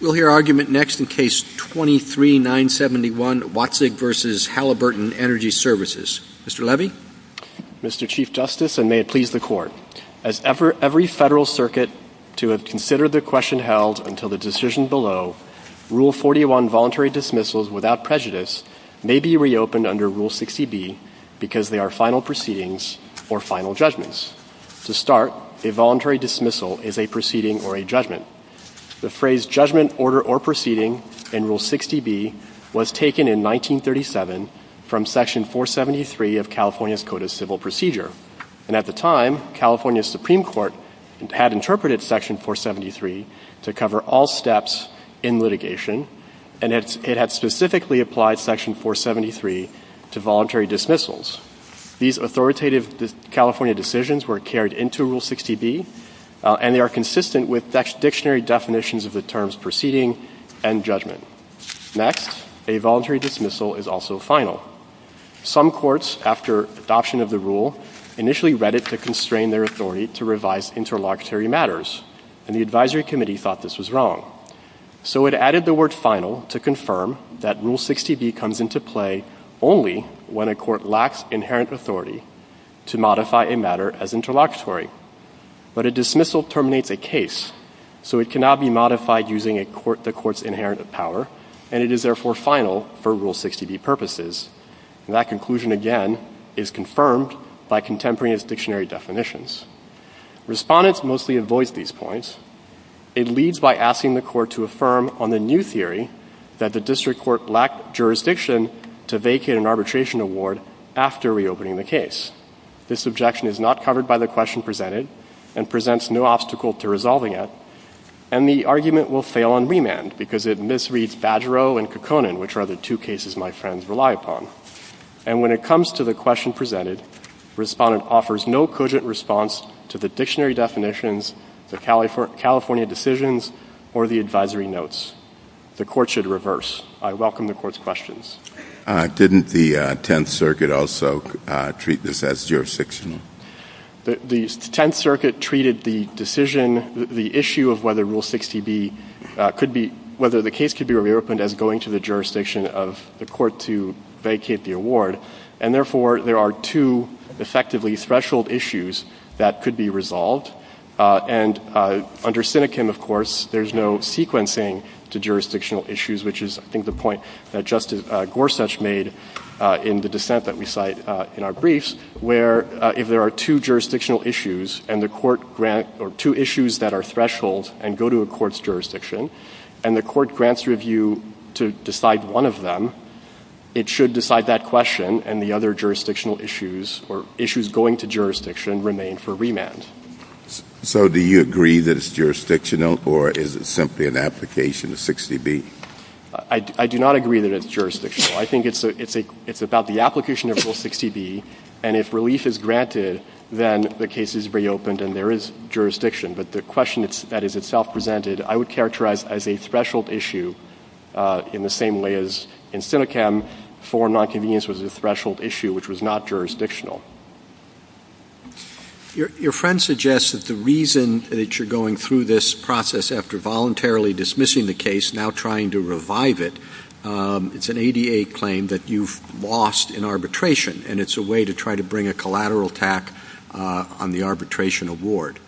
We'll hear argument next in Case 23-971, Weitzig v. Halliburton Energy Services. Mr. Levy? Mr. Chief Justice, and may it please the Court, as every federal circuit to have considered the question held until the decision below, Rule 41 voluntary dismissals without prejudice may be reopened under Rule 60B because they are final proceedings or final judgments. To start, a voluntary dismissal is a proceeding or a judgment. The phrase judgment, order, or proceeding in Rule 60B was taken in 1937 from Section 473 of California's Code of Civil Procedure. And at the time, California Supreme Court had interpreted Section 473 to cover all steps in litigation and it had specifically applied Section 473 to voluntary dismissals. These authoritative California decisions were carried into Rule 60B and they are consistent with dictionary definitions of the terms proceeding and judgment. Next, a voluntary dismissal is also final. Some courts, after adoption of the rule, initially read it to constrain their authority to revise interlocutory matters and the advisory committee thought this was wrong. So it added the word final to confirm that Rule 60B comes into play only when a court lacks inherent authority to modify a matter as interlocutory. But a dismissal terminates a case so it cannot be modified using the court's inherent power and it is therefore final for Rule 60B purposes. That conclusion again is confirmed by contemporaneous dictionary definitions. Respondents mostly avoids these points. It leads by asking the court to affirm on the new theory that the district court lacked jurisdiction to vacate an arbitration award after reopening the case. This objection is not covered by the question presented and presents no obstacle to resolving it and the argument will fail on remand because it misreads Badgeroe and Kekkonen which are the two cases my friends rely upon. And when it comes to the question presented, respondent offers no cogent response to the dictionary definitions, the California decisions or the advisory notes. The court should reverse. I welcome the court's questions. Didn't the 10th Circuit also treat this as jurisdictional? The 10th Circuit treated the decision, the issue of whether Rule 60B could be, whether the case could be reopened as going to the jurisdiction of the court to vacate the award. And therefore there are two effectively threshold issues that could be resolved. And under Sinekim, of course, there's no sequencing to jurisdictional issues which is, I think, the point that Justice Gorsuch made in the dissent that we cite in our briefs where if there are two jurisdictional issues and the court grant, or two issues that are threshold and go to a court's jurisdiction and the court grants review to decide one of them, it should decide that question and the other jurisdictional issues or issues going to jurisdiction remain for remand. So do you agree that it's jurisdictional or is it simply an application of 60B? I do not agree that it's jurisdictional. I think it's about the application of Rule 60B and if relief is granted, then the case is reopened and there is jurisdiction. But the question that is itself presented, I would characterize as a threshold issue in the same way as in Sinekim, for non-convenience was a threshold issue which was not jurisdictional. Your friend suggests that the reason that you're going through this process after voluntarily dismissing the case, now trying to revive it, it's an ADA claim that you've lost in arbitration and it's a way to try to bring a collateral attack on the arbitration award.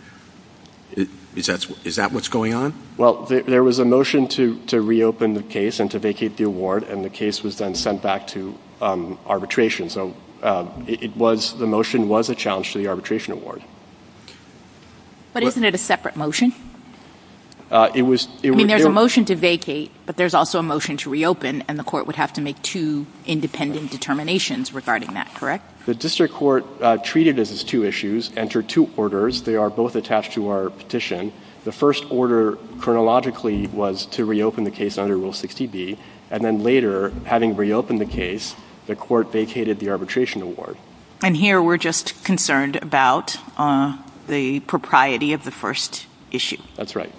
Is that what's going on? Well, there was a motion to reopen the case and to vacate the award and the case was then sent back to arbitration. So the motion was a challenge to the arbitration award. Okay. But isn't it a separate motion? I mean, there's a motion to vacate but there's also a motion to reopen and the court would have to make two independent determinations regarding that, correct? The district court treated it as two issues, entered two orders. They are both attached to our petition. The first order chronologically was to reopen the case under Rule 60B and then later, having reopened the case, the court vacated the arbitration award. And here, we're just concerned about the propriety of the first issue. That's right.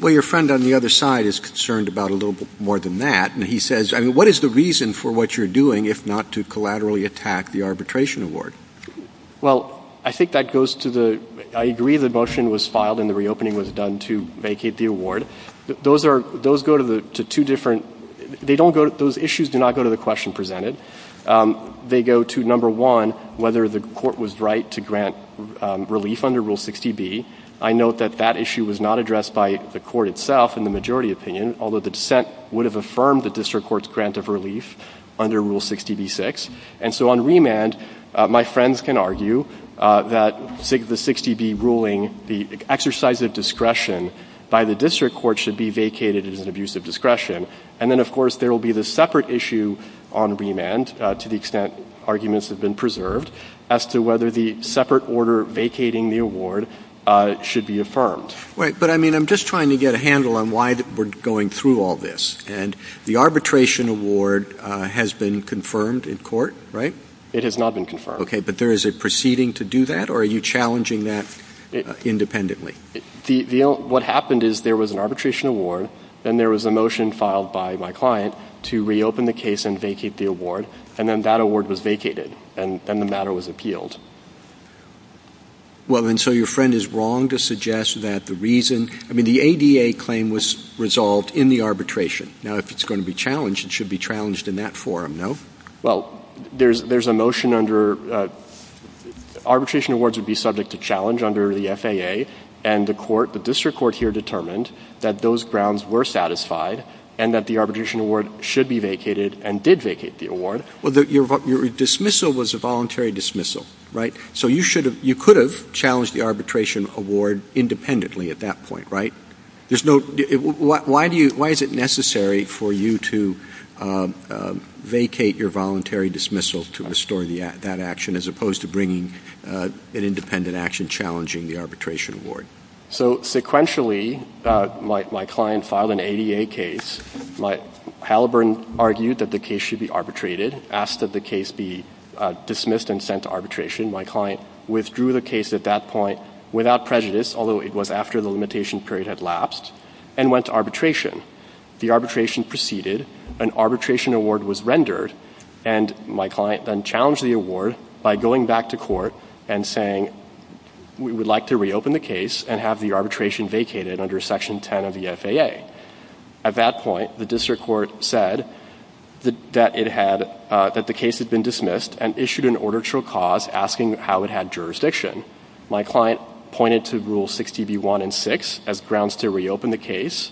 Well, your friend on the other side is concerned about a little bit more than that and he says, I mean, what is the reason for what you're doing if not to collaterally attack the arbitration award? Well, I think that goes to the, I agree the motion was filed and the reopening was done to vacate the award. Those are, those go to two different, they don't go, those issues do not go to the question presented. They go to number one, whether the court was right to grant relief under Rule 60B. I note that that issue was not addressed by the court itself in the majority opinion, although the dissent would have affirmed the district court's grant of relief under Rule 60B-6. And so on remand, my friends can argue that the 60B ruling, the exercise of discretion by the district court should be vacated as an abuse of discretion. And then of course, there will be the separate issue on remand to the extent arguments have been preserved as to whether the separate order vacating the award should be affirmed. Right, but I mean, I'm just trying to get a handle on why we're going through all this. And the arbitration award has been confirmed in court, right? It has not been confirmed. Okay, but there is a proceeding to do that or are you challenging that independently? What happened is there was an arbitration award and there was a motion filed by my client to reopen the case and vacate the award. And then that award was vacated and then the matter was appealed. Well, and so your friend is wrong to suggest that the reason, I mean, the ADA claim was resolved in the arbitration. Now, if it's going to be challenged, it should be challenged in that forum, no? Well, there's a motion under, arbitration awards would be subject to challenge under the FAA and the court, the district court here determined that those grounds were satisfied and that the arbitration award should be vacated and did vacate the award. Well, your dismissal was a voluntary dismissal, right? So you should have, you could have challenged the arbitration award independently at that point, right? There's no, why do you, why is it necessary for you to vacate your voluntary dismissal to restore that action as opposed to bringing an independent action challenging the arbitration award? So sequentially, my client filed an ADA case. My, Halliburton argued that the case should be arbitrated, asked that the case be dismissed and sent to arbitration. My client withdrew the case at that point without prejudice, although it was after the limitation period had lapsed and went to arbitration. The arbitration proceeded, an arbitration award was rendered and my client then challenged the award by going back to court and saying, we would like to reopen the case and have the arbitration vacated under section 10 of the FAA. At that point, the district court said that it had, that the case had been dismissed and issued an order to a cause asking how it had jurisdiction. My client pointed to rule 60B1 and six as grounds to reopen the case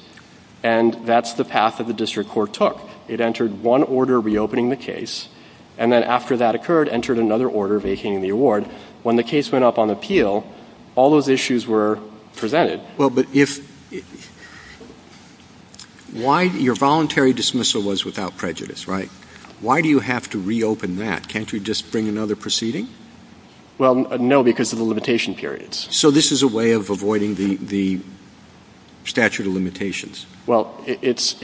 and that's the path that the district court took. It entered one order reopening the case and then after that occurred, entered another order vacating the award. When the case went up on appeal, all those issues were presented. Well, but if, why, your voluntary dismissal was without prejudice, right? Why do you have to reopen that? Can't you just bring another proceeding? Well, no, because of the limitation periods. So this is a way of avoiding the statute of limitations. Well, it's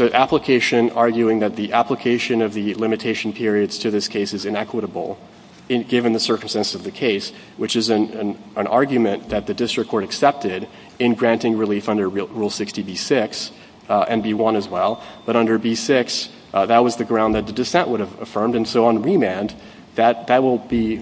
an application arguing that the application of the limitation periods to this case is inequitable given the circumstances of the case, which is an argument that the district court accepted in granting relief under rule 60B6 and B1 as well. But under B6, that was the ground that the dissent would have affirmed and so on remand, that will be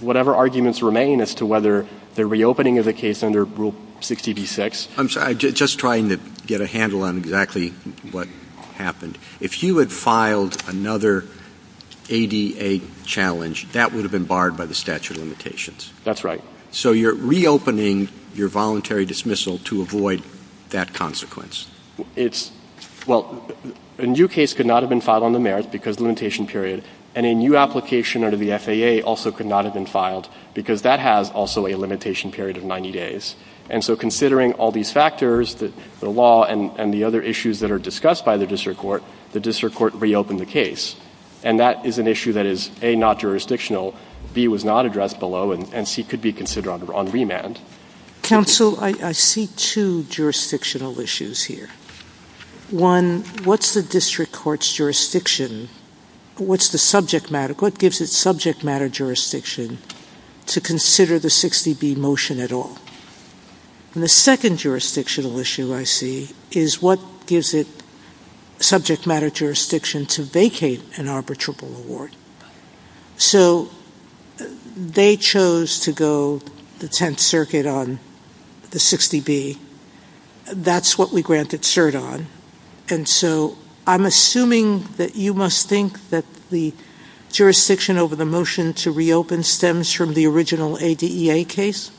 whatever arguments remain as to whether the reopening of the case under rule 60B6. I'm sorry, just trying to get a handle on exactly what happened. If you had filed another ADA challenge, that would have been barred by the statute of limitations. That's right. So you're reopening your voluntary dismissal to avoid that consequence. It's, well, a new case could not have been filed on the merits because the limitation period, and a new application under the FAA also could not have been filed because that has also a limitation period of 90 days. And so considering all these factors, the law and the other issues that are discussed by the district court, the district court reopened the case. And that is an issue that is, A, not jurisdictional, B, was not addressed below, and C, could be considered on remand. Counsel, I see two jurisdictional issues here. One, what's the district court's jurisdiction? What's the subject matter? What gives its subject matter jurisdiction to consider the 60B motion at all? And the second jurisdictional issue I see is what gives it subject matter jurisdiction to vacate an arbitrable award? So they chose to go the 10th circuit on the 60B. That's what we granted cert on. And so I'm assuming that you must think that the jurisdiction over the motion to reopen stems from the original ADEA case?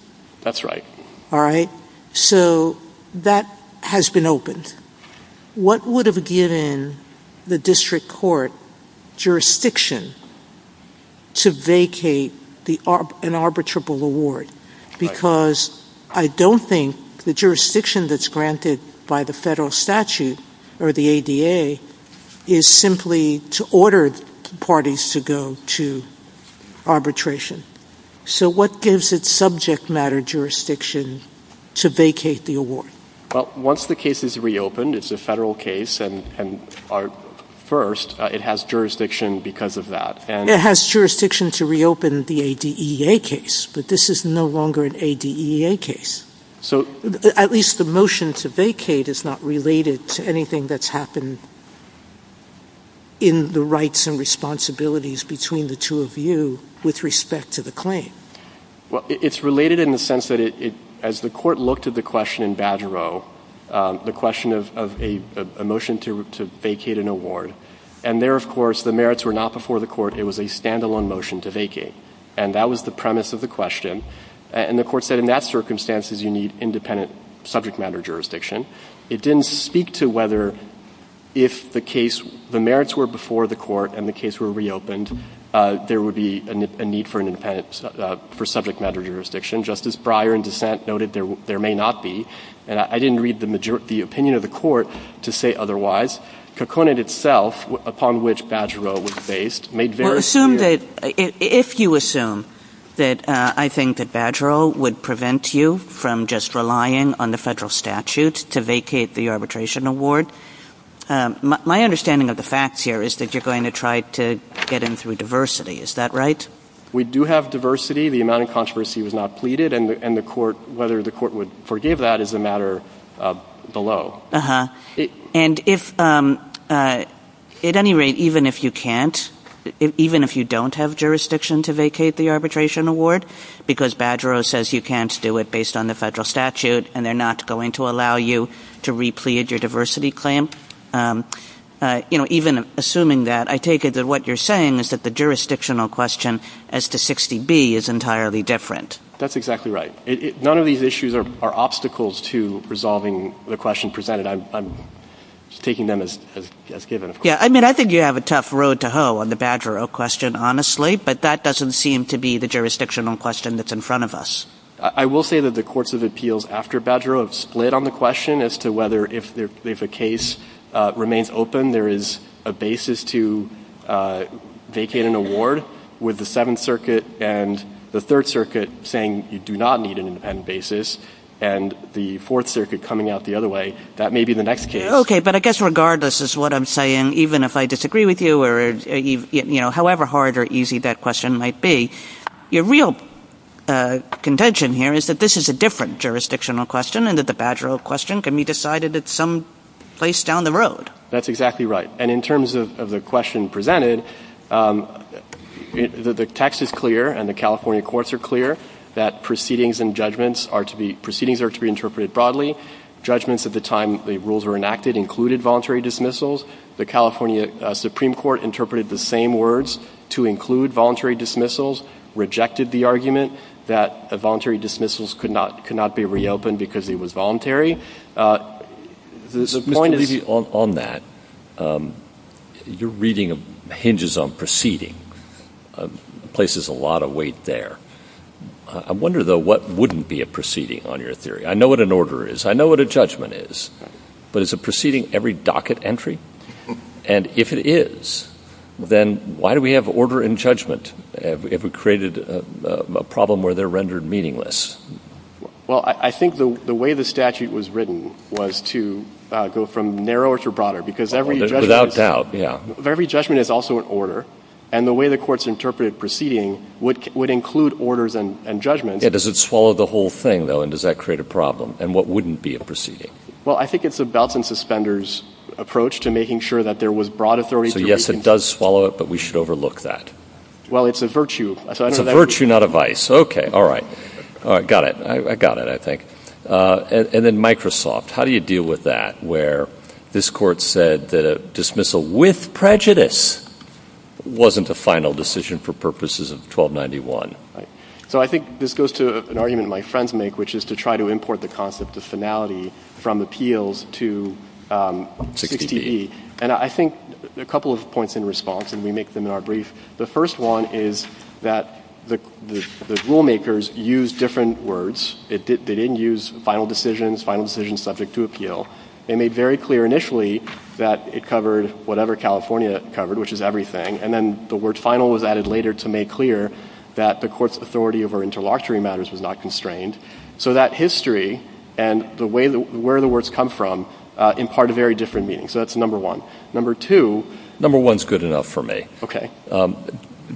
That's right. All right. So that has been opened. What would have given the district court jurisdiction to vacate an arbitrable award? Because I don't think the jurisdiction that's granted by the federal statute, or the ADA, is simply to order parties to go to arbitration. So what gives its subject matter jurisdiction to vacate the award? Well, once the case is reopened, it's a federal case, and our first, it has jurisdiction because of that. It has jurisdiction to reopen the ADEA case, but this is no longer an ADEA case. So. At least the motion to vacate is not related to anything that's happened in the rights and responsibilities between the two of you with respect to the claim. Well, it's related in the sense that it, as the court looked at the question in Badger O, the question of a motion to vacate an award, and there, of course, the merits were not before the court, it was a standalone motion to vacate. And that was the premise of the question. And the court said, in that circumstances, you need independent subject matter jurisdiction. It didn't speak to whether if the case, the merits were before the court, and the case were reopened, there would be a need for independent, for subject matter jurisdiction. Justice Breyer, in dissent, noted there may not be. And I didn't read the opinion of the court to say otherwise. Coconut itself, upon which Badger O was based, made very clear. Well, assume that, if you assume that I think that Badger O would prevent you from just relying on the federal statute to vacate the arbitration award, my understanding of the facts here is that you're going to try to get in through diversity, is that right? We do have diversity. The amount of controversy was not pleaded, and whether the court would forgive that is a matter below. Uh-huh, and if, at any rate, even if you can't, even if you don't have jurisdiction to vacate the arbitration award, because Badger O says you can't do it based on the federal statute, and they're not going to allow you to replete your diversity claim, even assuming that, I take it that what you're saying is that the jurisdictional question as to 60B is entirely different. That's exactly right. None of these issues are obstacles to resolving the question presented. I'm just taking them as given, of course. Yeah, I mean, I think you have a tough road to hoe on the Badger O question, honestly, but that doesn't seem to be the jurisdictional question that's in front of us. I will say that the courts of appeals after Badger O have split on the question as to whether if a case remains open, there is a basis to vacate an award with the Seventh Circuit and the Third Circuit saying you do not need an independent basis, and the Fourth Circuit coming out the other way, that may be the next case. Okay, but I guess regardless is what I'm saying, even if I disagree with you, or however hard or easy that question might be, your real contention here is that this is a different jurisdictional question, and that the Badger O question can be decided at some place down the road. That's exactly right, and in terms of the question presented, the text is clear, and the California courts are clear, that proceedings and judgments are to be, proceedings are to be interpreted broadly. Judgments at the time the rules were enacted included voluntary dismissals. The California Supreme Court interpreted the same words to include voluntary dismissals, rejected the argument that voluntary dismissals could not be reopened because it was voluntary. The point is. Mr. Levy, on that, your reading hinges on proceeding, places a lot of weight there. I wonder though, what wouldn't be a proceeding on your theory? I know what an order is, I know what a judgment is, but is a proceeding every docket entry? And if it is, then why do we have order and judgment if we created a problem where they're rendered meaningless? Well, I think the way the statute was written was to go from narrower to broader, because every judgment is also an order, and the way the courts interpreted proceeding would include orders and judgments. Yeah, does it swallow the whole thing though, and does that create a problem? And what wouldn't be a proceeding? Well, I think it's a belts and suspenders approach to making sure that there was broad authority. So yes, it does swallow it, but we should overlook that. Well, it's a virtue. It's a virtue, not a vice, okay, all right. Got it, I got it, I think. And then Microsoft, how do you deal with that, where this court said that a dismissal with prejudice wasn't a final decision for purposes of 1291? So I think this goes to an argument my friends make, which is to try to import the concept of finality from appeals to 60E. And I think a couple of points in response, and we make them in our brief. The first one is that the rule makers used different words. They didn't use final decisions, final decisions subject to appeal. They made very clear initially that it covered whatever California covered, which is everything. And then the word final was added later to make clear that the court's authority over interlocutory matters was not constrained. So that history and where the words come from impart a very different meaning. So that's number one. Number two. Okay.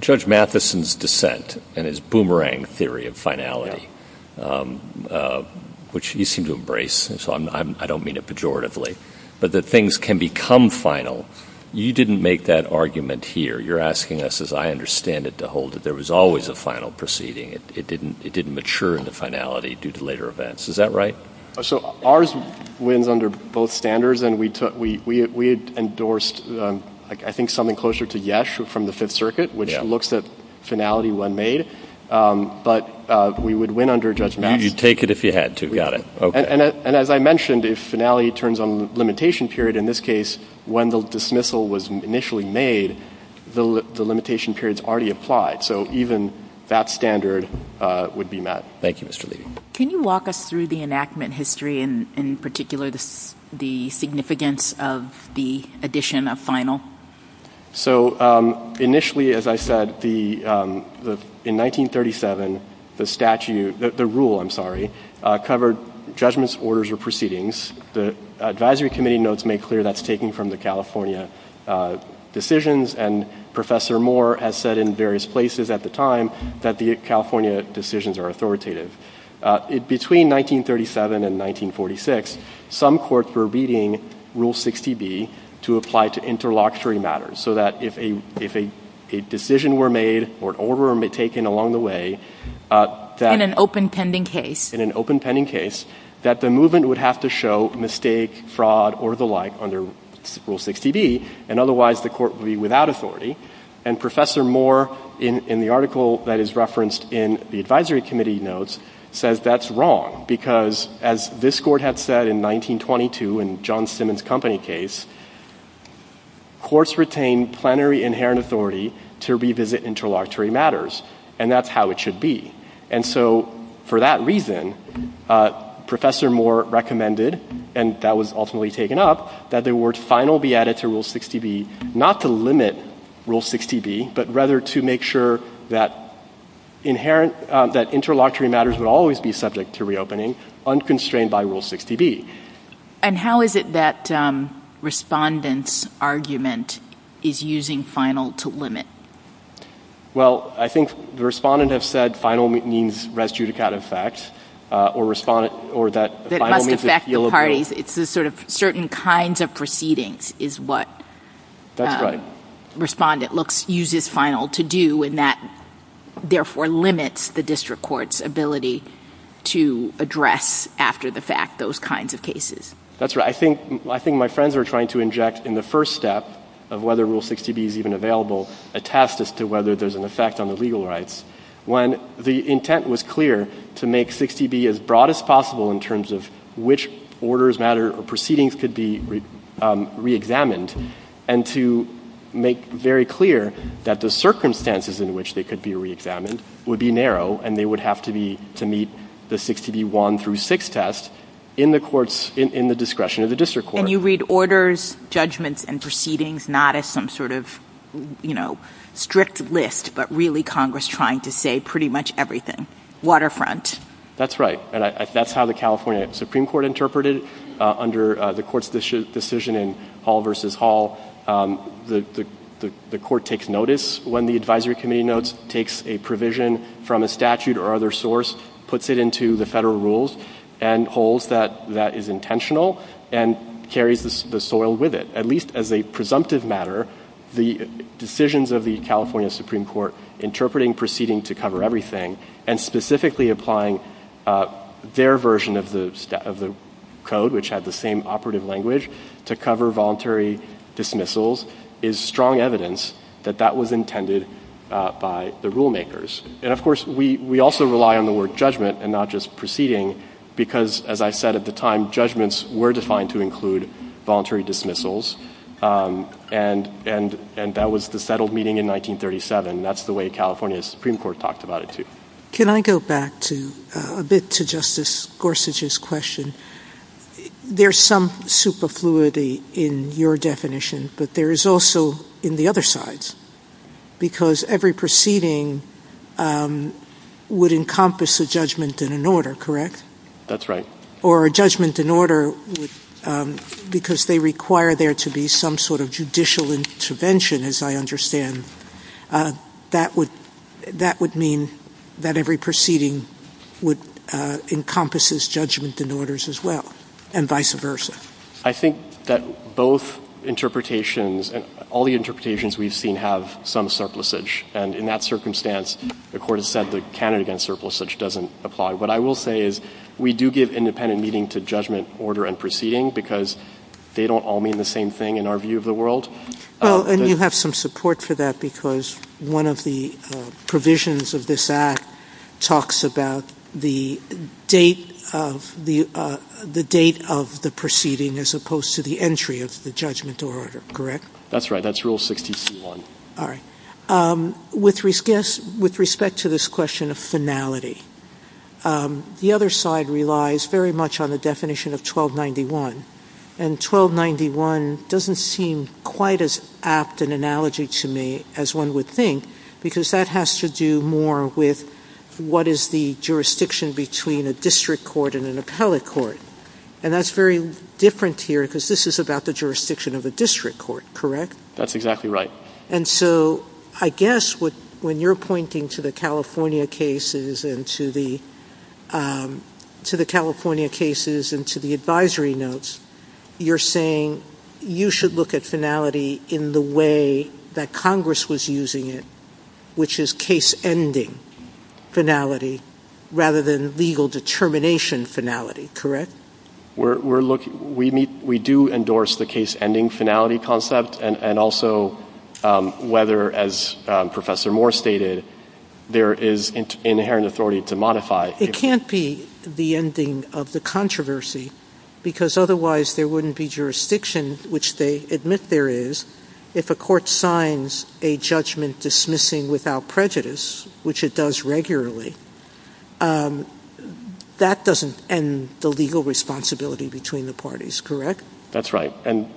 Judge Matheson's dissent and his boomerang theory of finality, which he seemed to embrace, and so I don't mean it pejoratively, but that things can become final. You didn't make that argument here. You're asking us, as I understand it, to hold that there was always a final proceeding. It didn't mature into finality due to later events. Is that right? So ours wins under both standards, and we had endorsed, I think, something closer to Yesh from the Fifth Circuit, which looks at finality when made, but we would win under Judge Matheson. You'd take it if you had to. Got it. And as I mentioned, if finality turns on limitation period, in this case, when the dismissal was initially made, the limitation period's already applied. So even that standard would be met. Thank you, Mr. Levy. Can you walk us through the enactment history, and in particular, the significance of the addition of final? So initially, as I said, in 1937, the rule covered judgments, orders, or proceedings. The advisory committee notes make clear that's taken from the California decisions, and Professor Moore has said in various places at the time that the California decisions are authoritative. Between 1937 and 1946, some courts were beating Rule 60B to apply to interlocutory matters, so that if a decision were made or an order were taken along the way that- In an open pending case. In an open pending case, that the movement would have to show mistake, fraud, or the like under Rule 60B, and otherwise, the court would be without authority. And Professor Moore, in the article that is referenced in the advisory committee notes, says that's wrong, because as this court had said in 1922 in John Simmons' company case, courts retain plenary inherent authority to revisit interlocutory matters, and that's how it should be. And so for that reason, Professor Moore recommended, and that was ultimately taken up, that the word final be added to Rule 60B, not to limit Rule 60B, but rather to make sure that interlocutory matters would always be subject to reopening, unconstrained by Rule 60B. And how is it that Respondent's argument is using final to limit? Well, I think the Respondent have said final means res judicata effect, or Respondent, or that final means- That must affect the parties. It's the sort of certain kinds of proceedings is what Respondent uses final to do, and that therefore limits the district court's ability to address after the fact those kinds of cases. That's right, I think my friends are trying to inject in the first step of whether Rule 60B is even available, a test as to whether there's an effect on the legal rights, when the intent was clear to make 60B as broad as possible in terms of which orders, matters, or proceedings could be reexamined, and to make very clear that the circumstances in which they could be reexamined would be narrow, and they would have to meet the 60B one through six test in the courts, in the discretion of the district court. And you read orders, judgments, and proceedings not as some sort of strict list, but really Congress trying to say pretty much everything, waterfront. That's right, and that's how the California Supreme Court interpreted it under the court's decision in Hall versus Hall, the court takes notice when the advisory committee notes, takes a provision from a statute or other source, puts it into the federal rules, and holds that that is intentional, and carries the soil with it. At least as a presumptive matter, the decisions of the California Supreme Court interpreting proceeding to cover everything, and specifically applying their version of the code, which had the same operative language, to cover voluntary dismissals, is strong evidence that that was intended by the rule makers. And of course, we also rely on the word judgment, and not just proceeding, because as I said at the time, judgments were defined to include voluntary dismissals, and that was the settled meeting in 1937. That's the way California Supreme Court talked about it too. Can I go back a bit to Justice Gorsuch's question? There's some superfluity in your definition, but there is also in the other sides, because every proceeding would encompass a judgment and an order, correct? That's right. Or a judgment and order, because they require there to be some sort of judicial intervention, as I understand, that would mean that every proceeding would encompass this judgment and orders as well, and vice versa. I think that both interpretations, and all the interpretations we've seen, have some surplusage, and in that circumstance, the court has said the candidate against surplusage doesn't apply. What I will say is, we do give independent meaning to judgment, order, and proceeding, because they don't all mean the same thing in our view of the world. Well, and you have some support for that, because one of the provisions of this act talks about the date of the proceeding, as opposed to the entry of the judgment or order, correct? That's right, that's Rule 60-C-1. All right. With respect to this question of finality, the other side relies very much on the definition of 1291, and 1291 doesn't seem quite as apt an analogy to me as one would think, because that has to do more with what is the jurisdiction between a district court and an appellate court, and that's very different here, because this is about the jurisdiction of a district court, correct? That's exactly right. And so, I guess, when you're pointing to the California cases and to the advisory notes, you're saying you should look at finality in the way that Congress was using it, which is case-ending finality, rather than legal determination finality, correct? We're looking, we do endorse the case-ending finality concept, and also whether, as Professor Moore stated, there is inherent authority to modify. It can't be the ending of the controversy, because otherwise there wouldn't be jurisdiction, which they admit there is, if a court signs a judgment dismissing without prejudice, which it does regularly, that doesn't end the legal responsibility between the parties, correct? That's right, and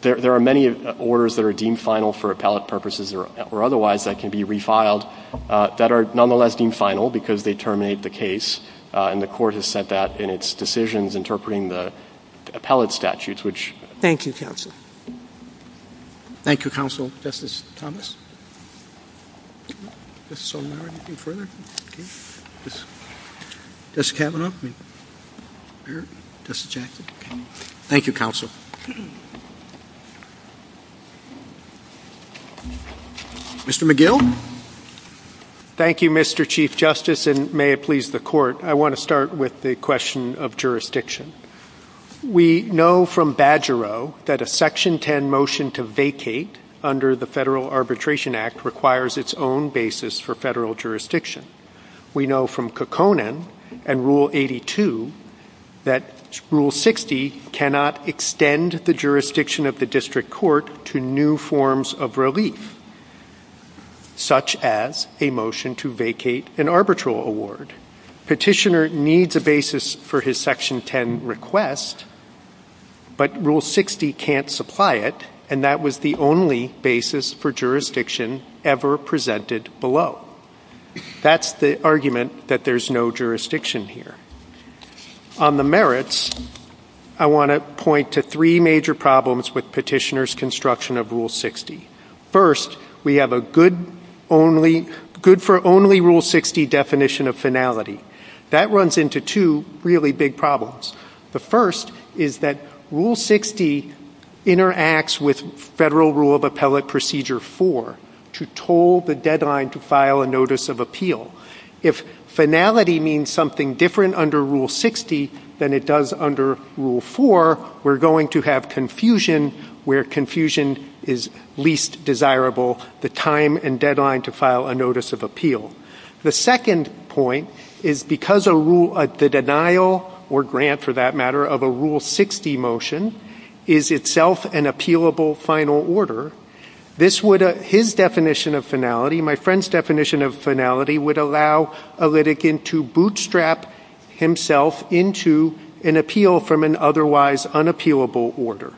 there are many orders that are deemed final for appellate purposes or otherwise that can be refiled, that are nonetheless deemed final, because they terminate the case, and the court has said that in its decisions interpreting the appellate statutes, which. Thank you, counsel. Thank you, counsel. Justice Thomas? Justice Sotomayor, anything further? Justice Kavanaugh? Justice Jackson? Thank you, counsel. Mr. McGill? Thank you, Mr. Chief Justice, and may it please the court, I want to start with the question of jurisdiction. We know from Badgero that a Section 10 motion to vacate under the Federal Arbitration Act requires its own basis for federal jurisdiction. We know from Kekkonen and Rule 82 that Rule 60 cannot extend the jurisdiction of the district court to new forms of relief, such as a motion to vacate an arbitral award. Petitioner needs a basis for his Section 10 request, but Rule 60 can't supply it, and that was the only basis for jurisdiction ever presented below. That's the argument that there's no jurisdiction here. On the merits, I want to point to three major problems with petitioner's construction of Rule 60. First, we have a good for only Rule 60 definition of finality. That runs into two really big problems. The first is that Rule 60 interacts with Federal Rule of Appellate Procedure 4, to toll the deadline to file a notice of appeal. If finality means something different under Rule 60 than it does under Rule 4, we're going to have confusion where confusion is least desirable, the time and deadline to file a notice of appeal. The second point is because a rule, the denial, or grant for that matter, of a Rule 60 motion is itself an appealable final order, this would, his definition of finality, my friend's definition of finality, would allow a litigant to bootstrap himself into an appeal from an otherwise unappealable order.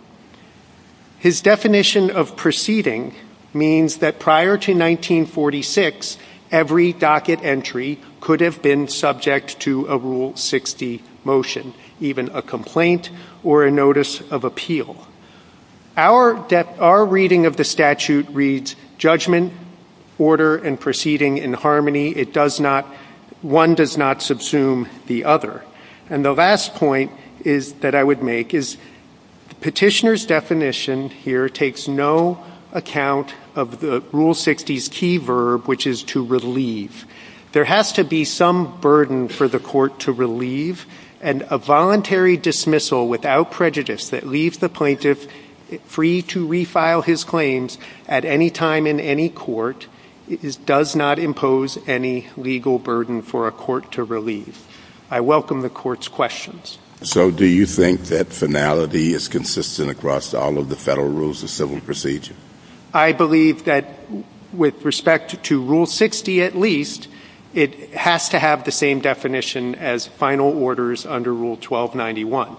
His definition of proceeding means that prior to 1946, every docket entry could have been subject to a Rule 60 motion, even a complaint, or a notice of appeal. Our reading of the statute reads, judgment, order, and proceeding in harmony. It does not, one does not subsume the other. And the last point that I would make is the petitioner's definition here takes no account of the Rule 60's key verb, which is to relieve. There has to be some burden for the court to relieve, and a voluntary dismissal without prejudice that leaves the plaintiff free to refile his claims at any time in any court does not impose any legal burden for a court to relieve. I welcome the court's questions. So do you think that finality is consistent across all of the federal rules of civil procedure? I believe that with respect to Rule 60 at least, it has to have the same definition as final orders under Rule 1291.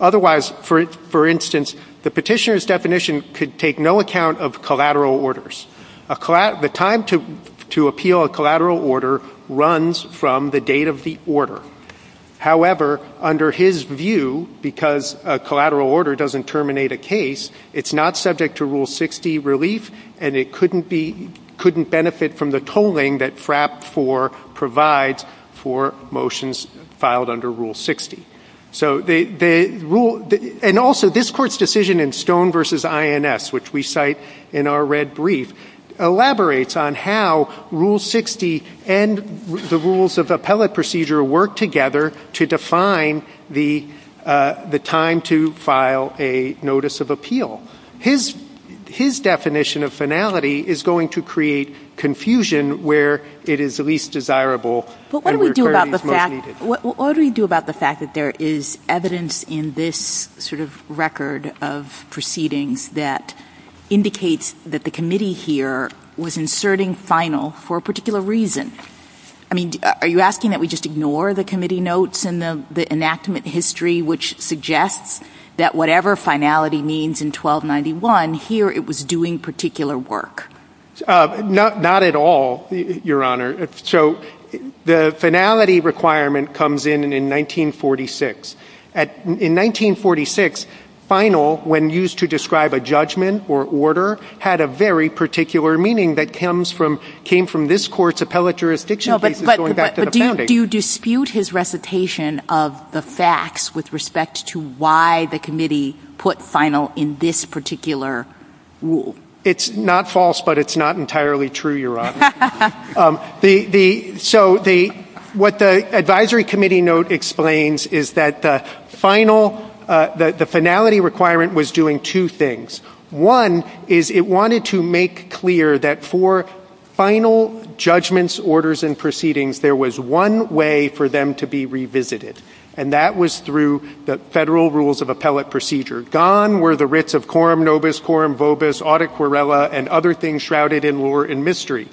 Otherwise, for instance, the petitioner's definition could take no account of collateral orders. The time to appeal a collateral order runs from the date of the order. However, under his view, because a collateral order doesn't terminate a case, it's not subject to Rule 60 relief, and it couldn't benefit from the tolling that FRAP 4 provides for motions filed under Rule 60. And also, this court's decision in Stone v. INS, which we cite in our red brief, elaborates on how Rule 60 and the rules of appellate procedure work together to define the time to file a notice of appeal. His definition of finality is going to create confusion where it is least desirable and where clarity is most needed. What do we do about the fact that there is evidence in this sort of record of proceedings that indicates that the committee here was inserting final for a particular reason? I mean, are you asking that we just ignore the committee notes and the enactment history which suggests that whatever finality means in 1291, here it was doing particular work? Not at all, Your Honor. So, the finality requirement comes in in 1946. In 1946, final, when used to describe a judgment or order, had a very particular meaning that came from this court's appellate jurisdiction cases going back to the founding. Do you dispute his recitation of the facts with respect to why the committee put final in this particular rule? It's not false, but it's not entirely true, Your Honor. So, what the advisory committee note explains is that the finality requirement was doing two things. One is it wanted to make clear that for final judgments, orders, and proceedings, there was one way for them to be revisited, and that was through the federal rules of appellate procedure. Gone were the writs of quorum nobis, quorum vobis, audit querella, and other things shrouded in lore and mystery.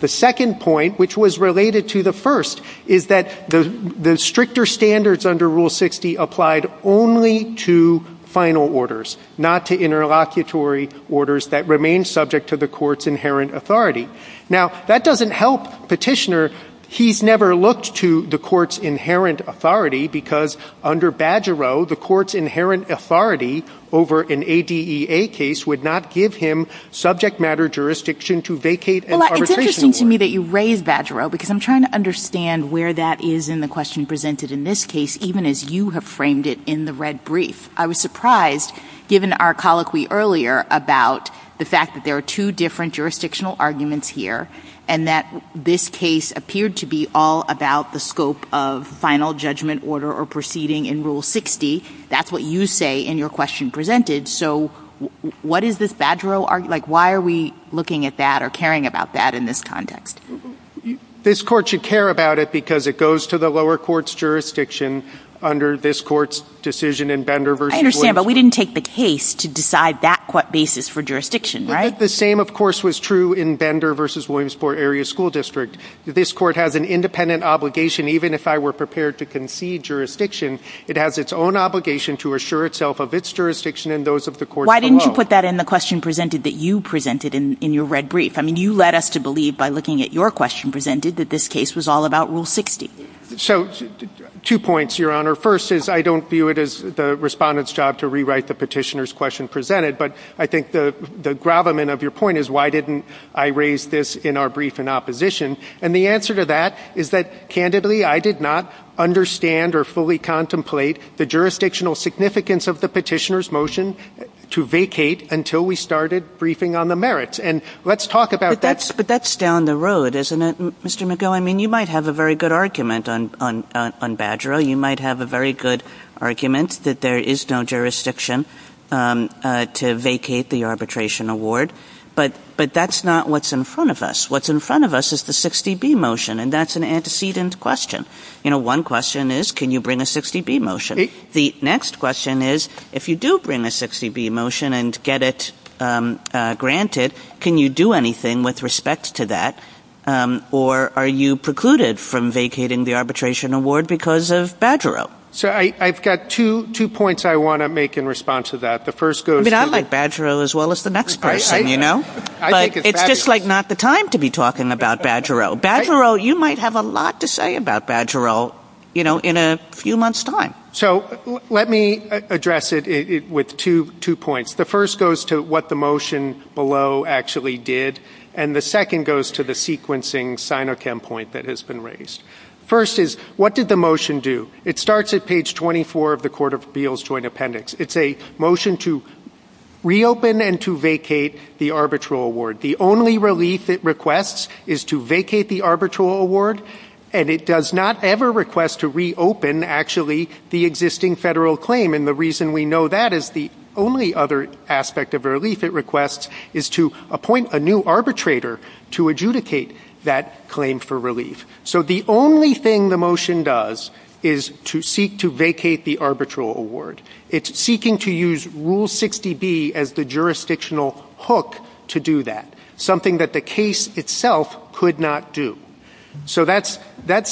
The second point, which was related to the first, is that the stricter standards under Rule 60 applied only to final orders, not to interlocutory orders that remained subject to the court's inherent authority. Now, that doesn't help Petitioner. He's never looked to the court's inherent authority because under Bajarro, the court's inherent authority over an ADEA case would not give him subject matter jurisdiction to vacate an arbitration war. Well, it's interesting to me that you raise Bajarro because I'm trying to understand where that is in the question presented in this case, even as you have framed it in the red brief. I was surprised, given our colloquy earlier about the fact that there are two different jurisdictional arguments here, and that this case appeared to be all about the scope of final judgment order or proceeding in Rule 60. That's what you say in your question presented. So, what is this Bajarro argument, like why are we looking at that or caring about that in this context? This court should care about it because it goes to the lower court's jurisdiction under this court's decision in Bender versus Williamson. I understand, but we didn't take the case to decide that basis for jurisdiction, right? The same, of course, was true in Bender versus Williamsport Area School District. This court has an independent obligation, even if I were prepared to concede jurisdiction, it has its own obligation to assure itself of its jurisdiction and those of the courts below. Why didn't you put that in the question presented that you presented in your red brief? I mean, you led us to believe, by looking at your question presented, that this case was all about Rule 60. So, two points, Your Honor. First is I don't view it as the respondent's job to rewrite the petitioner's question presented, but I think the gravamen of your point is why didn't I raise this in our brief in opposition? And the answer to that is that, candidly, I did not understand or fully contemplate the jurisdictional significance of the petitioner's motion to vacate until we started briefing on the merits. And let's talk about that. But that's down the road, isn't it, Mr. McGill? I mean, you might have a very good argument on Badgera. You might have a very good argument that there is no jurisdiction to vacate the arbitration award. But that's not what's in front of us. What's in front of us is the 60B motion, and that's an antecedent question. You know, one question is, can you bring a 60B motion? The next question is, if you do bring a 60B motion and get it granted, can you do anything with respect to that? Or are you precluded from vacating the arbitration award because of Badgera? So, I've got two points I wanna make in response to that. The first goes to the- But it's just like not the time to be talking about Badgera. Badgera, you might have a lot to say about Badgera in a few months' time. So, let me address it with two points. The first goes to what the motion below actually did, and the second goes to the sequencing SINOCHEM point that has been raised. First is, what did the motion do? It starts at page 24 of the Court of Appeals Joint Appendix. It's a motion to reopen and to vacate the arbitral award. The only relief it requests is to vacate the arbitral award, and it does not ever request to reopen, actually, the existing federal claim. And the reason we know that is the only other aspect of relief it requests is to appoint a new arbitrator to adjudicate that claim for relief. So, the only thing the motion does is to seek to vacate the arbitral award. It's seeking to use Rule 60B as the jurisdictional hook to do that, something that the case itself could not do. So, that's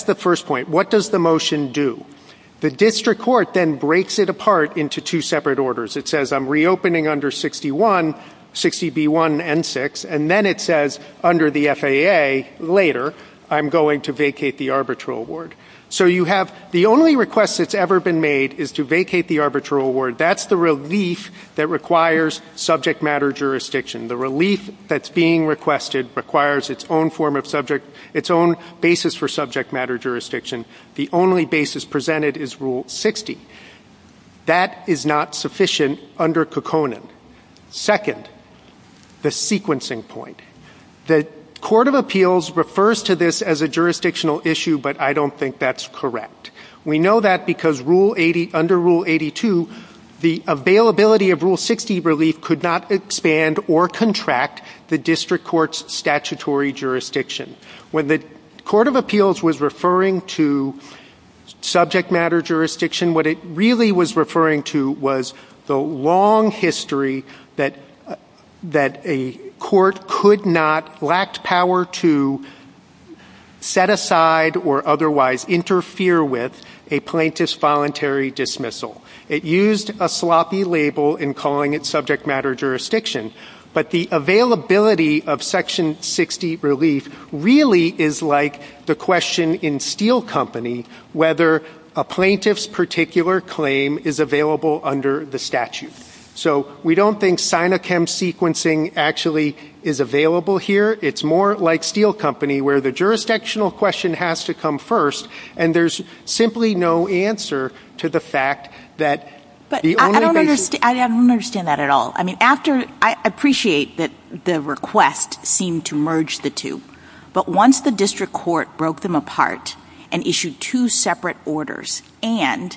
the first point. What does the motion do? The district court then breaks it apart into two separate orders. It says, I'm reopening under 61, 60B1 and six, and then it says, under the FAA, later, I'm going to vacate the arbitral award. So, you have, the only request that's ever been made is to vacate the arbitral award. That's the relief that requires subject matter jurisdiction. The relief that's being requested requires its own form of subject, its own basis for subject matter jurisdiction. The only basis presented is Rule 60. That is not sufficient under Kokkonen. Second, the sequencing point. The Court of Appeals refers to this as a jurisdictional issue, but I don't think that's correct. We know that because under Rule 82, the availability of Rule 60 relief could not expand or contract the district court's statutory jurisdiction. When the Court of Appeals was referring to subject matter jurisdiction, what it really was referring to was the long history that a court could not, lacked power to set aside or otherwise interfere with a plaintiff's voluntary dismissal. It used a sloppy label in calling it subject matter jurisdiction, but the availability of Section 60 relief really is like the question in Steel Company whether a plaintiff's particular claim is available under the statute. So, we don't think Sinochem sequencing actually is available here. It's more like Steel Company, where the jurisdictional question has to come first, and there's simply no answer to the fact that the only basis- I don't understand that at all. I mean, after, I appreciate that the request seemed to merge the two, but once the district court broke them apart and issued two separate orders, and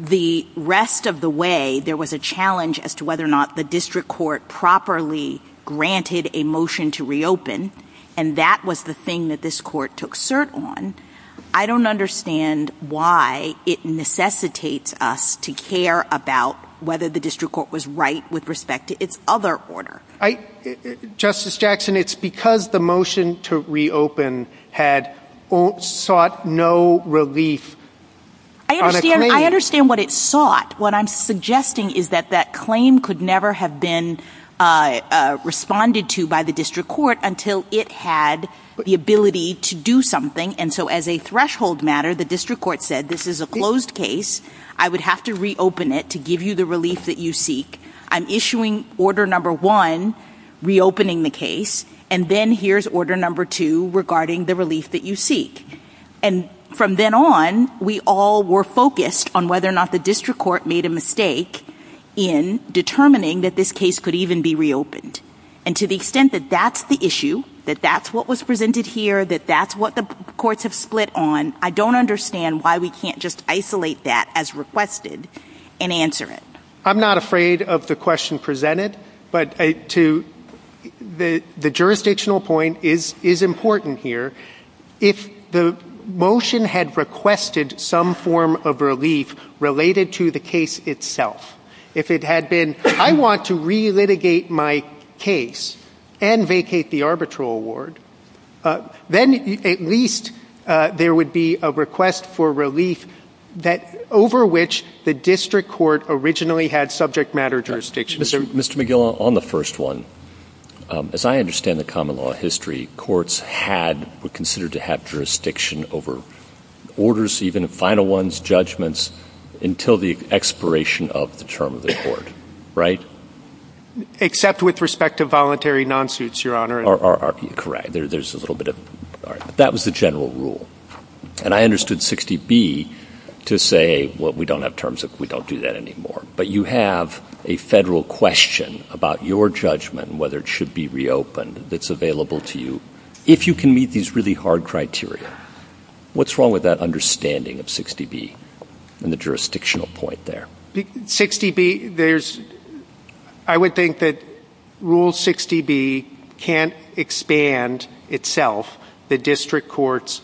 the rest of the way, there was a challenge as to whether or not the district court properly granted a motion to reopen, and that was the thing that this court took cert on, I don't understand why it necessitates us to care about whether the district court was right with respect to its other order. Justice Jackson, it's because the motion to reopen had sought no relief on a claim. I understand what it sought. What I'm suggesting is that that claim could never have been responded to by the district court until it had the ability to do something, and so as a threshold matter, the district court said, this is a closed case. I would have to reopen it to give you the relief that you seek. I'm issuing order number one, reopening the case, and then here's order number two regarding the relief that you seek, and from then on, we all were focused on whether or not the district court made a mistake in determining that this case could even be reopened, and to the extent that that's the issue, that that's what was presented here, that that's what the courts have split on, I don't understand why we can't just isolate that as requested and answer it. I'm not afraid of the question presented, but the jurisdictional point is important here. If the motion had requested some form of relief related to the case itself, if it had been, I want to re-litigate my case and vacate the arbitral award, then at least there would be a request for relief over which the district court originally had subject matter jurisdiction. Mr. McGill, on the first one, as I understand the common law history, courts were considered to have jurisdiction over orders, even final ones, judgments, until the expiration of the term of the court, right? Except with respect to voluntary non-suits, Your Honor. Correct, there's a little bit of, that was the general rule, and I understood 60B to say, well, we don't have terms, we don't do that anymore, but you have a federal question about your judgment and whether it should be reopened that's available to you. If you can meet these really hard criteria, what's wrong with that understanding of 60B? And the jurisdictional point there. 60B, there's, I would think that Rule 60B can't expand itself, the district court's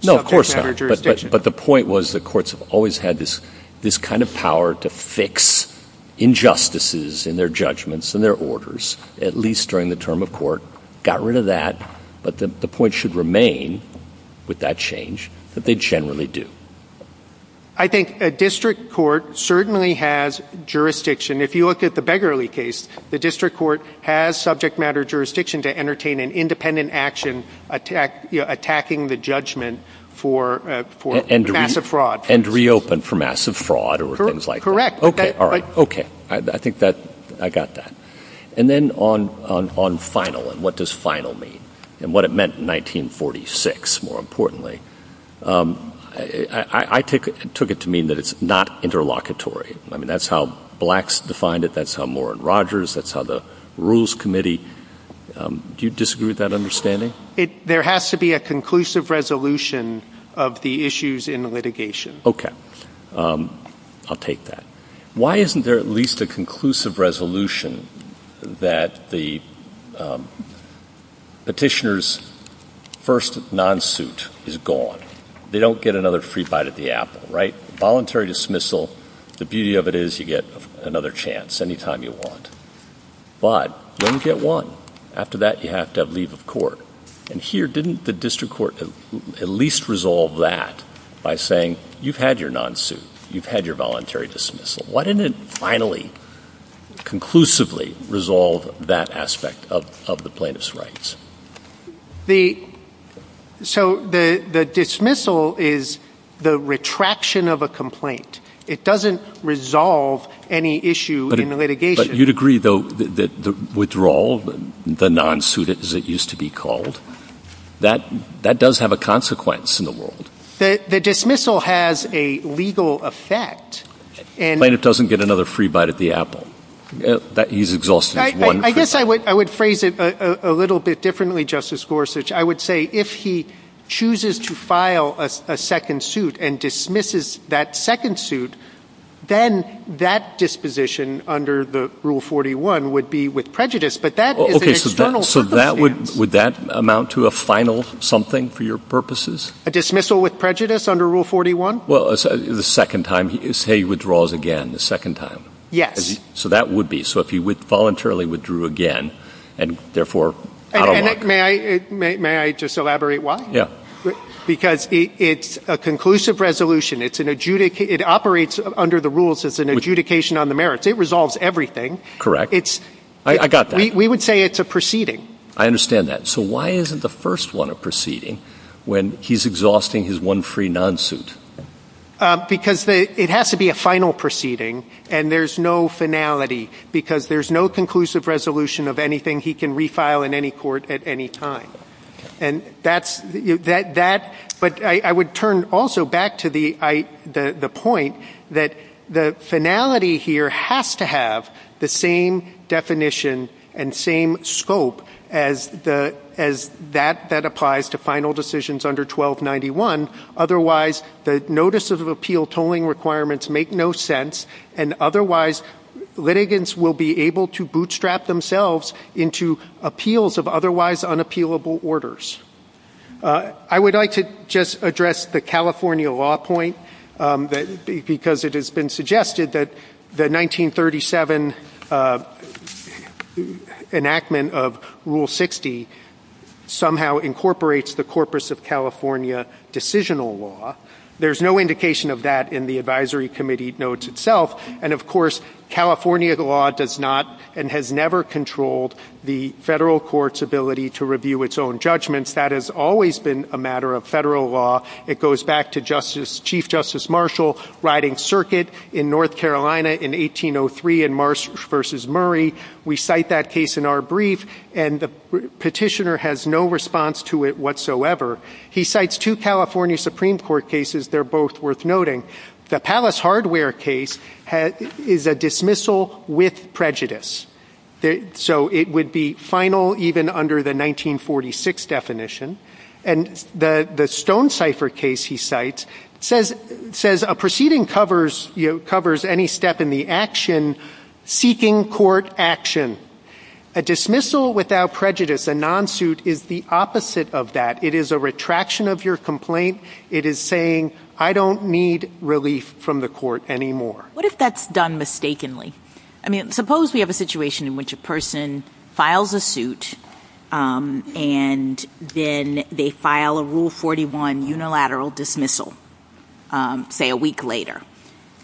subject matter jurisdiction. No, of course not. But the point was the courts have always had this kind of power to fix injustices in their judgments and their orders, at least during the term of court, got rid of that, but the point should remain, with that change, that they generally do. I think a district court certainly has jurisdiction. If you look at the Beggarly case, the district court has subject matter jurisdiction to entertain an independent action attacking the judgment for massive fraud. And reopen for massive fraud or things like that. Correct. Okay, all right, okay, I think that I got that. And then on final and what does final mean and what it meant in 1946, more importantly, I took it to mean that it's not interlocutory. I mean, that's how blacks defined it, that's how Warren Rogers, that's how the Rules Committee, do you disagree with that understanding? There has to be a conclusive resolution of the issues in the litigation. Okay, I'll take that. Why isn't there at least a conclusive resolution that the petitioner's first non-suit is gone, they don't get another free bite at the apple, right? Voluntary dismissal, the beauty of it is you get another chance any time you want. But you only get one. After that, you have to have leave of court. And here, didn't the district court at least resolve that by saying, you've had your non-suit, you've had your voluntary dismissal. Why didn't it finally, conclusively resolve that aspect of the plaintiff's rights? The, so the dismissal is the retraction of a complaint. It doesn't resolve any issue in the litigation. But you'd agree, though, that the withdrawal, the non-suit, as it used to be called, that does have a consequence in the world. The dismissal has a legal effect. Plaintiff doesn't get another free bite at the apple. He's exhausted his one free bite. I guess I would phrase it a little bit differently, Justice Gorsuch. I would say if he chooses to file a second suit and dismisses that second suit, then that disposition under the Rule 41 would be with prejudice. But that is an external circumstance. Would that amount to a final something for your purposes? A dismissal with prejudice under Rule 41? Well, the second time, say he withdraws again, the second time. Yes. So that would be. So if he voluntarily withdrew again, and therefore out of luck. May I just elaborate why? Yeah. Because it's a conclusive resolution. It's an adjudicate, it operates under the rules as an adjudication on the merits. It resolves everything. Correct. I got that. We would say it's a proceeding. I understand that. So why isn't the first one a proceeding when he's exhausting his one free non-suit? Because it has to be a final proceeding, and there's no finality. Because there's no conclusive resolution of anything he can refile in any court at any time. But I would turn also back to the point that the finality here has to have the same definition and same scope as that that applies to final decisions under 1291. Otherwise, the notice of appeal tolling requirements make no sense. And otherwise, litigants will be able to bootstrap themselves into appeals of otherwise unappealable orders. I would like to just address the California law point, because it has been suggested that the 1937 enactment of Rule 60 somehow incorporates the Corpus of California decisional law. There's no indication of that in the advisory committee notes itself. And of course, California law does not and has never controlled the federal court's ability to review its own judgments. That has always been a matter of federal law. It goes back to Chief Justice Marshall riding circuit in North Carolina in 1803 in Marsh v. Murray. We cite that case in our brief, and the petitioner has no response to it whatsoever. He cites two California Supreme Court cases. They're both worth noting. The Palace Hardware case is a dismissal with prejudice. So it would be final even under the 1946 definition. And the Stonecipher case, he cites, says a proceeding covers any step in the action, seeking court action. A dismissal without prejudice, a non-suit, is the opposite of that. It is a retraction of your complaint. It is saying, I don't need relief from the court anymore. What if that's done mistakenly? I mean, suppose we have a situation in which a person files a suit, and then they file a Rule 41 unilateral dismissal, say a week later,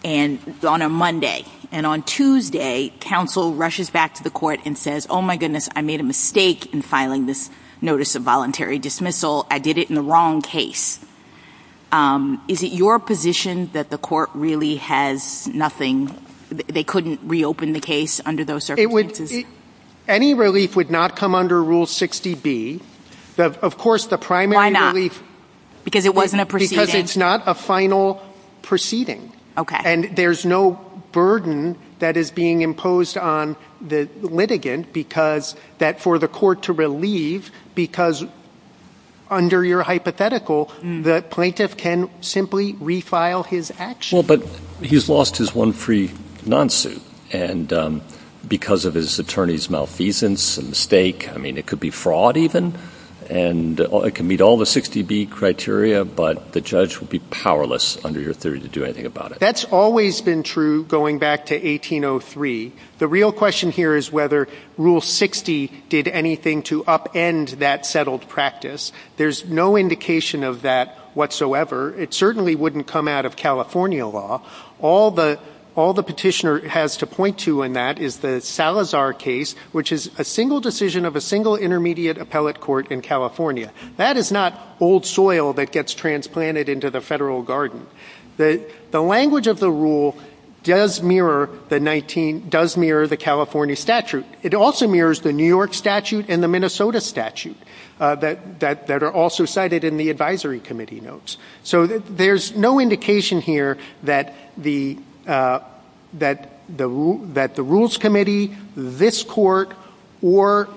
on a Monday. And on Tuesday, counsel rushes back to the court and says, oh my goodness, I made a mistake in filing this notice of voluntary dismissal. I did it in the wrong case. Is it your position that the court really has nothing, they couldn't reopen the case under those circumstances? Any relief would not come under Rule 60B. Of course, the primary relief- Because it wasn't a proceeding? Because it's not a final proceeding. Okay. And there's no burden that is being imposed on the litigant for the court to relieve, because under your hypothetical, the plaintiff can simply refile his action. Well, but he's lost his one free non-suit, and because of his attorney's malfeasance and mistake, I mean, it could be fraud even, and it can meet all the 60B criteria, but the judge would be powerless under your theory to do anything about it. That's always been true going back to 1803. The real question here is whether Rule 60 did anything to upend that settled practice. There's no indication of that whatsoever. It certainly wouldn't come out of California law. All the petitioner has to point to in that is the Salazar case, which is a single decision of a single intermediate appellate court in California. That is not old soil that gets transplanted into the federal garden. The language of the rule does mirror the 19, does mirror the California statute. It also mirrors the New York statute and the Minnesota statute that are also cited in the advisory committee notes. So there's no indication here that the rules committee, this court, or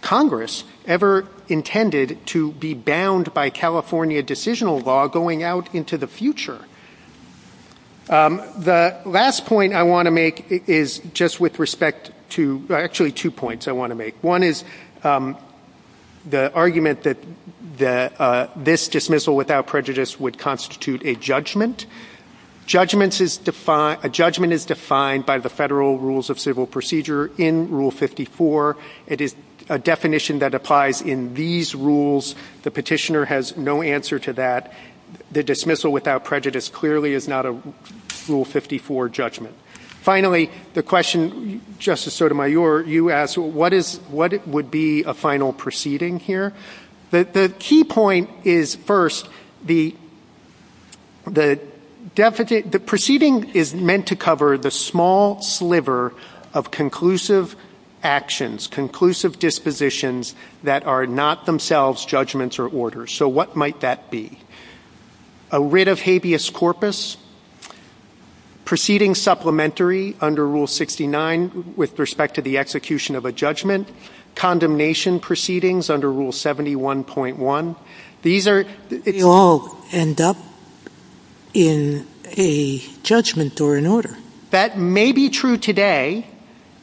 Congress ever intended to be bound by California decisional law going out into the future. The last point I want to make is just with respect to, actually two points I want to make. One is the argument that this dismissal without prejudice would constitute a judgment. Judgments is defined, a judgment is defined by the federal rules of civil procedure in Rule 54. It is a definition that applies in these rules. The petitioner has no answer to that. The dismissal without prejudice clearly is not a Rule 54 judgment. Finally, the question, Justice Sotomayor, you asked what would be a final proceeding here? The key point is first, the proceeding is meant to cover the small sliver of conclusive actions, conclusive dispositions that are not themselves judgments or orders. So what might that be? A writ of habeas corpus, proceeding supplementary under Rule 69 with respect to the execution of a judgment, condemnation proceedings under Rule 71.1. These are- They all end up in a judgment or an order. That may be true today,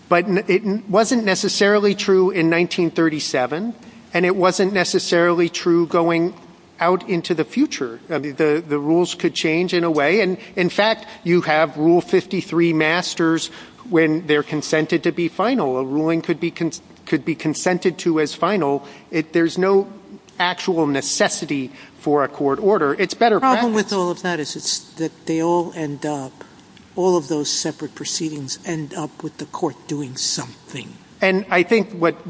but it wasn't necessarily true in 1937, and it wasn't necessarily true going out into the future. The rules could change in a way. And in fact, you have Rule 53 masters when they're consented to be final. A ruling could be consented to as final. There's no actual necessity for a court order. It's better practice. The problem with all of that is it's that they all end up, all of those separate proceedings end up with the court doing something. And I think what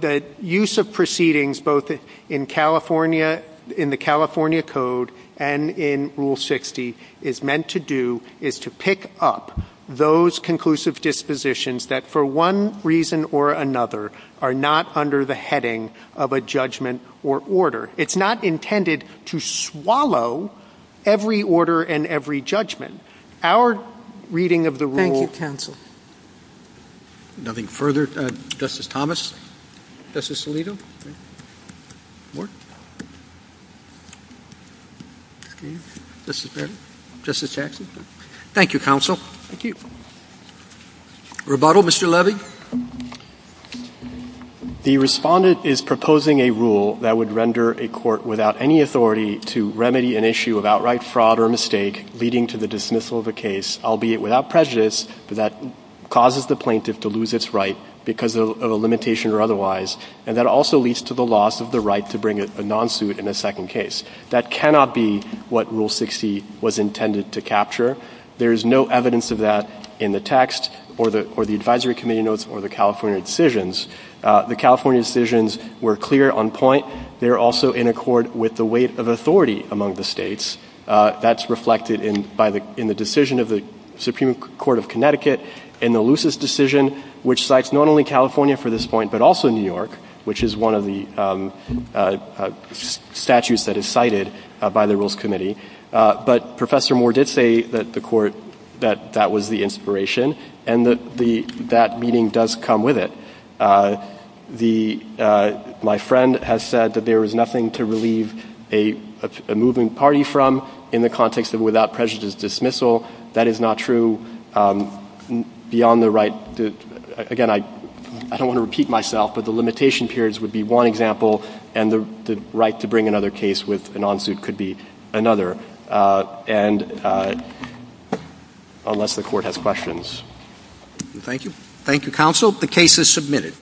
the use of proceedings, both in the California Code and in Rule 60 is meant to do is to pick up those conclusive dispositions that for one reason or another are not under the heading of a judgment or order. It's not intended to swallow every order and every judgment. Our reading of the rule- Thank you, counsel. Nothing further, Justice Thomas? Justice Alito? More? Justice Barrett? Justice Jackson? Thank you, counsel. Thank you. Rebuttal, Mr. Levy? The respondent is proposing a rule that would render a court without any authority to remedy an issue of outright fraud or mistake leading to the dismissal of a case, albeit without prejudice, but that causes the plaintiff to lose its right because of a limitation or otherwise. And that also leads to the loss of the right to bring a non-suit in a second case. That cannot be what Rule 60 was intended to capture. There is no evidence of that in the text or the advisory committee notes or the California decisions. The California decisions were clear on point. They're also in accord with the weight of authority among the states. That's reflected in the decision of the Supreme Court of Connecticut in the Lucis decision, which cites not only California for this point, but also New York, which is one of the statutes that is cited by the Rules Committee. But Professor Moore did say that the court, that that was the inspiration and that that meeting does come with it. My friend has said that there is nothing to relieve a moving party from in the context of without prejudice dismissal. That is not true beyond the right to, again, I don't want to repeat myself, but the limitation periods would be one example and the right to bring another case with a non-suit could be another. And unless the court has questions. Thank you. Thank you, counsel. The case is submitted.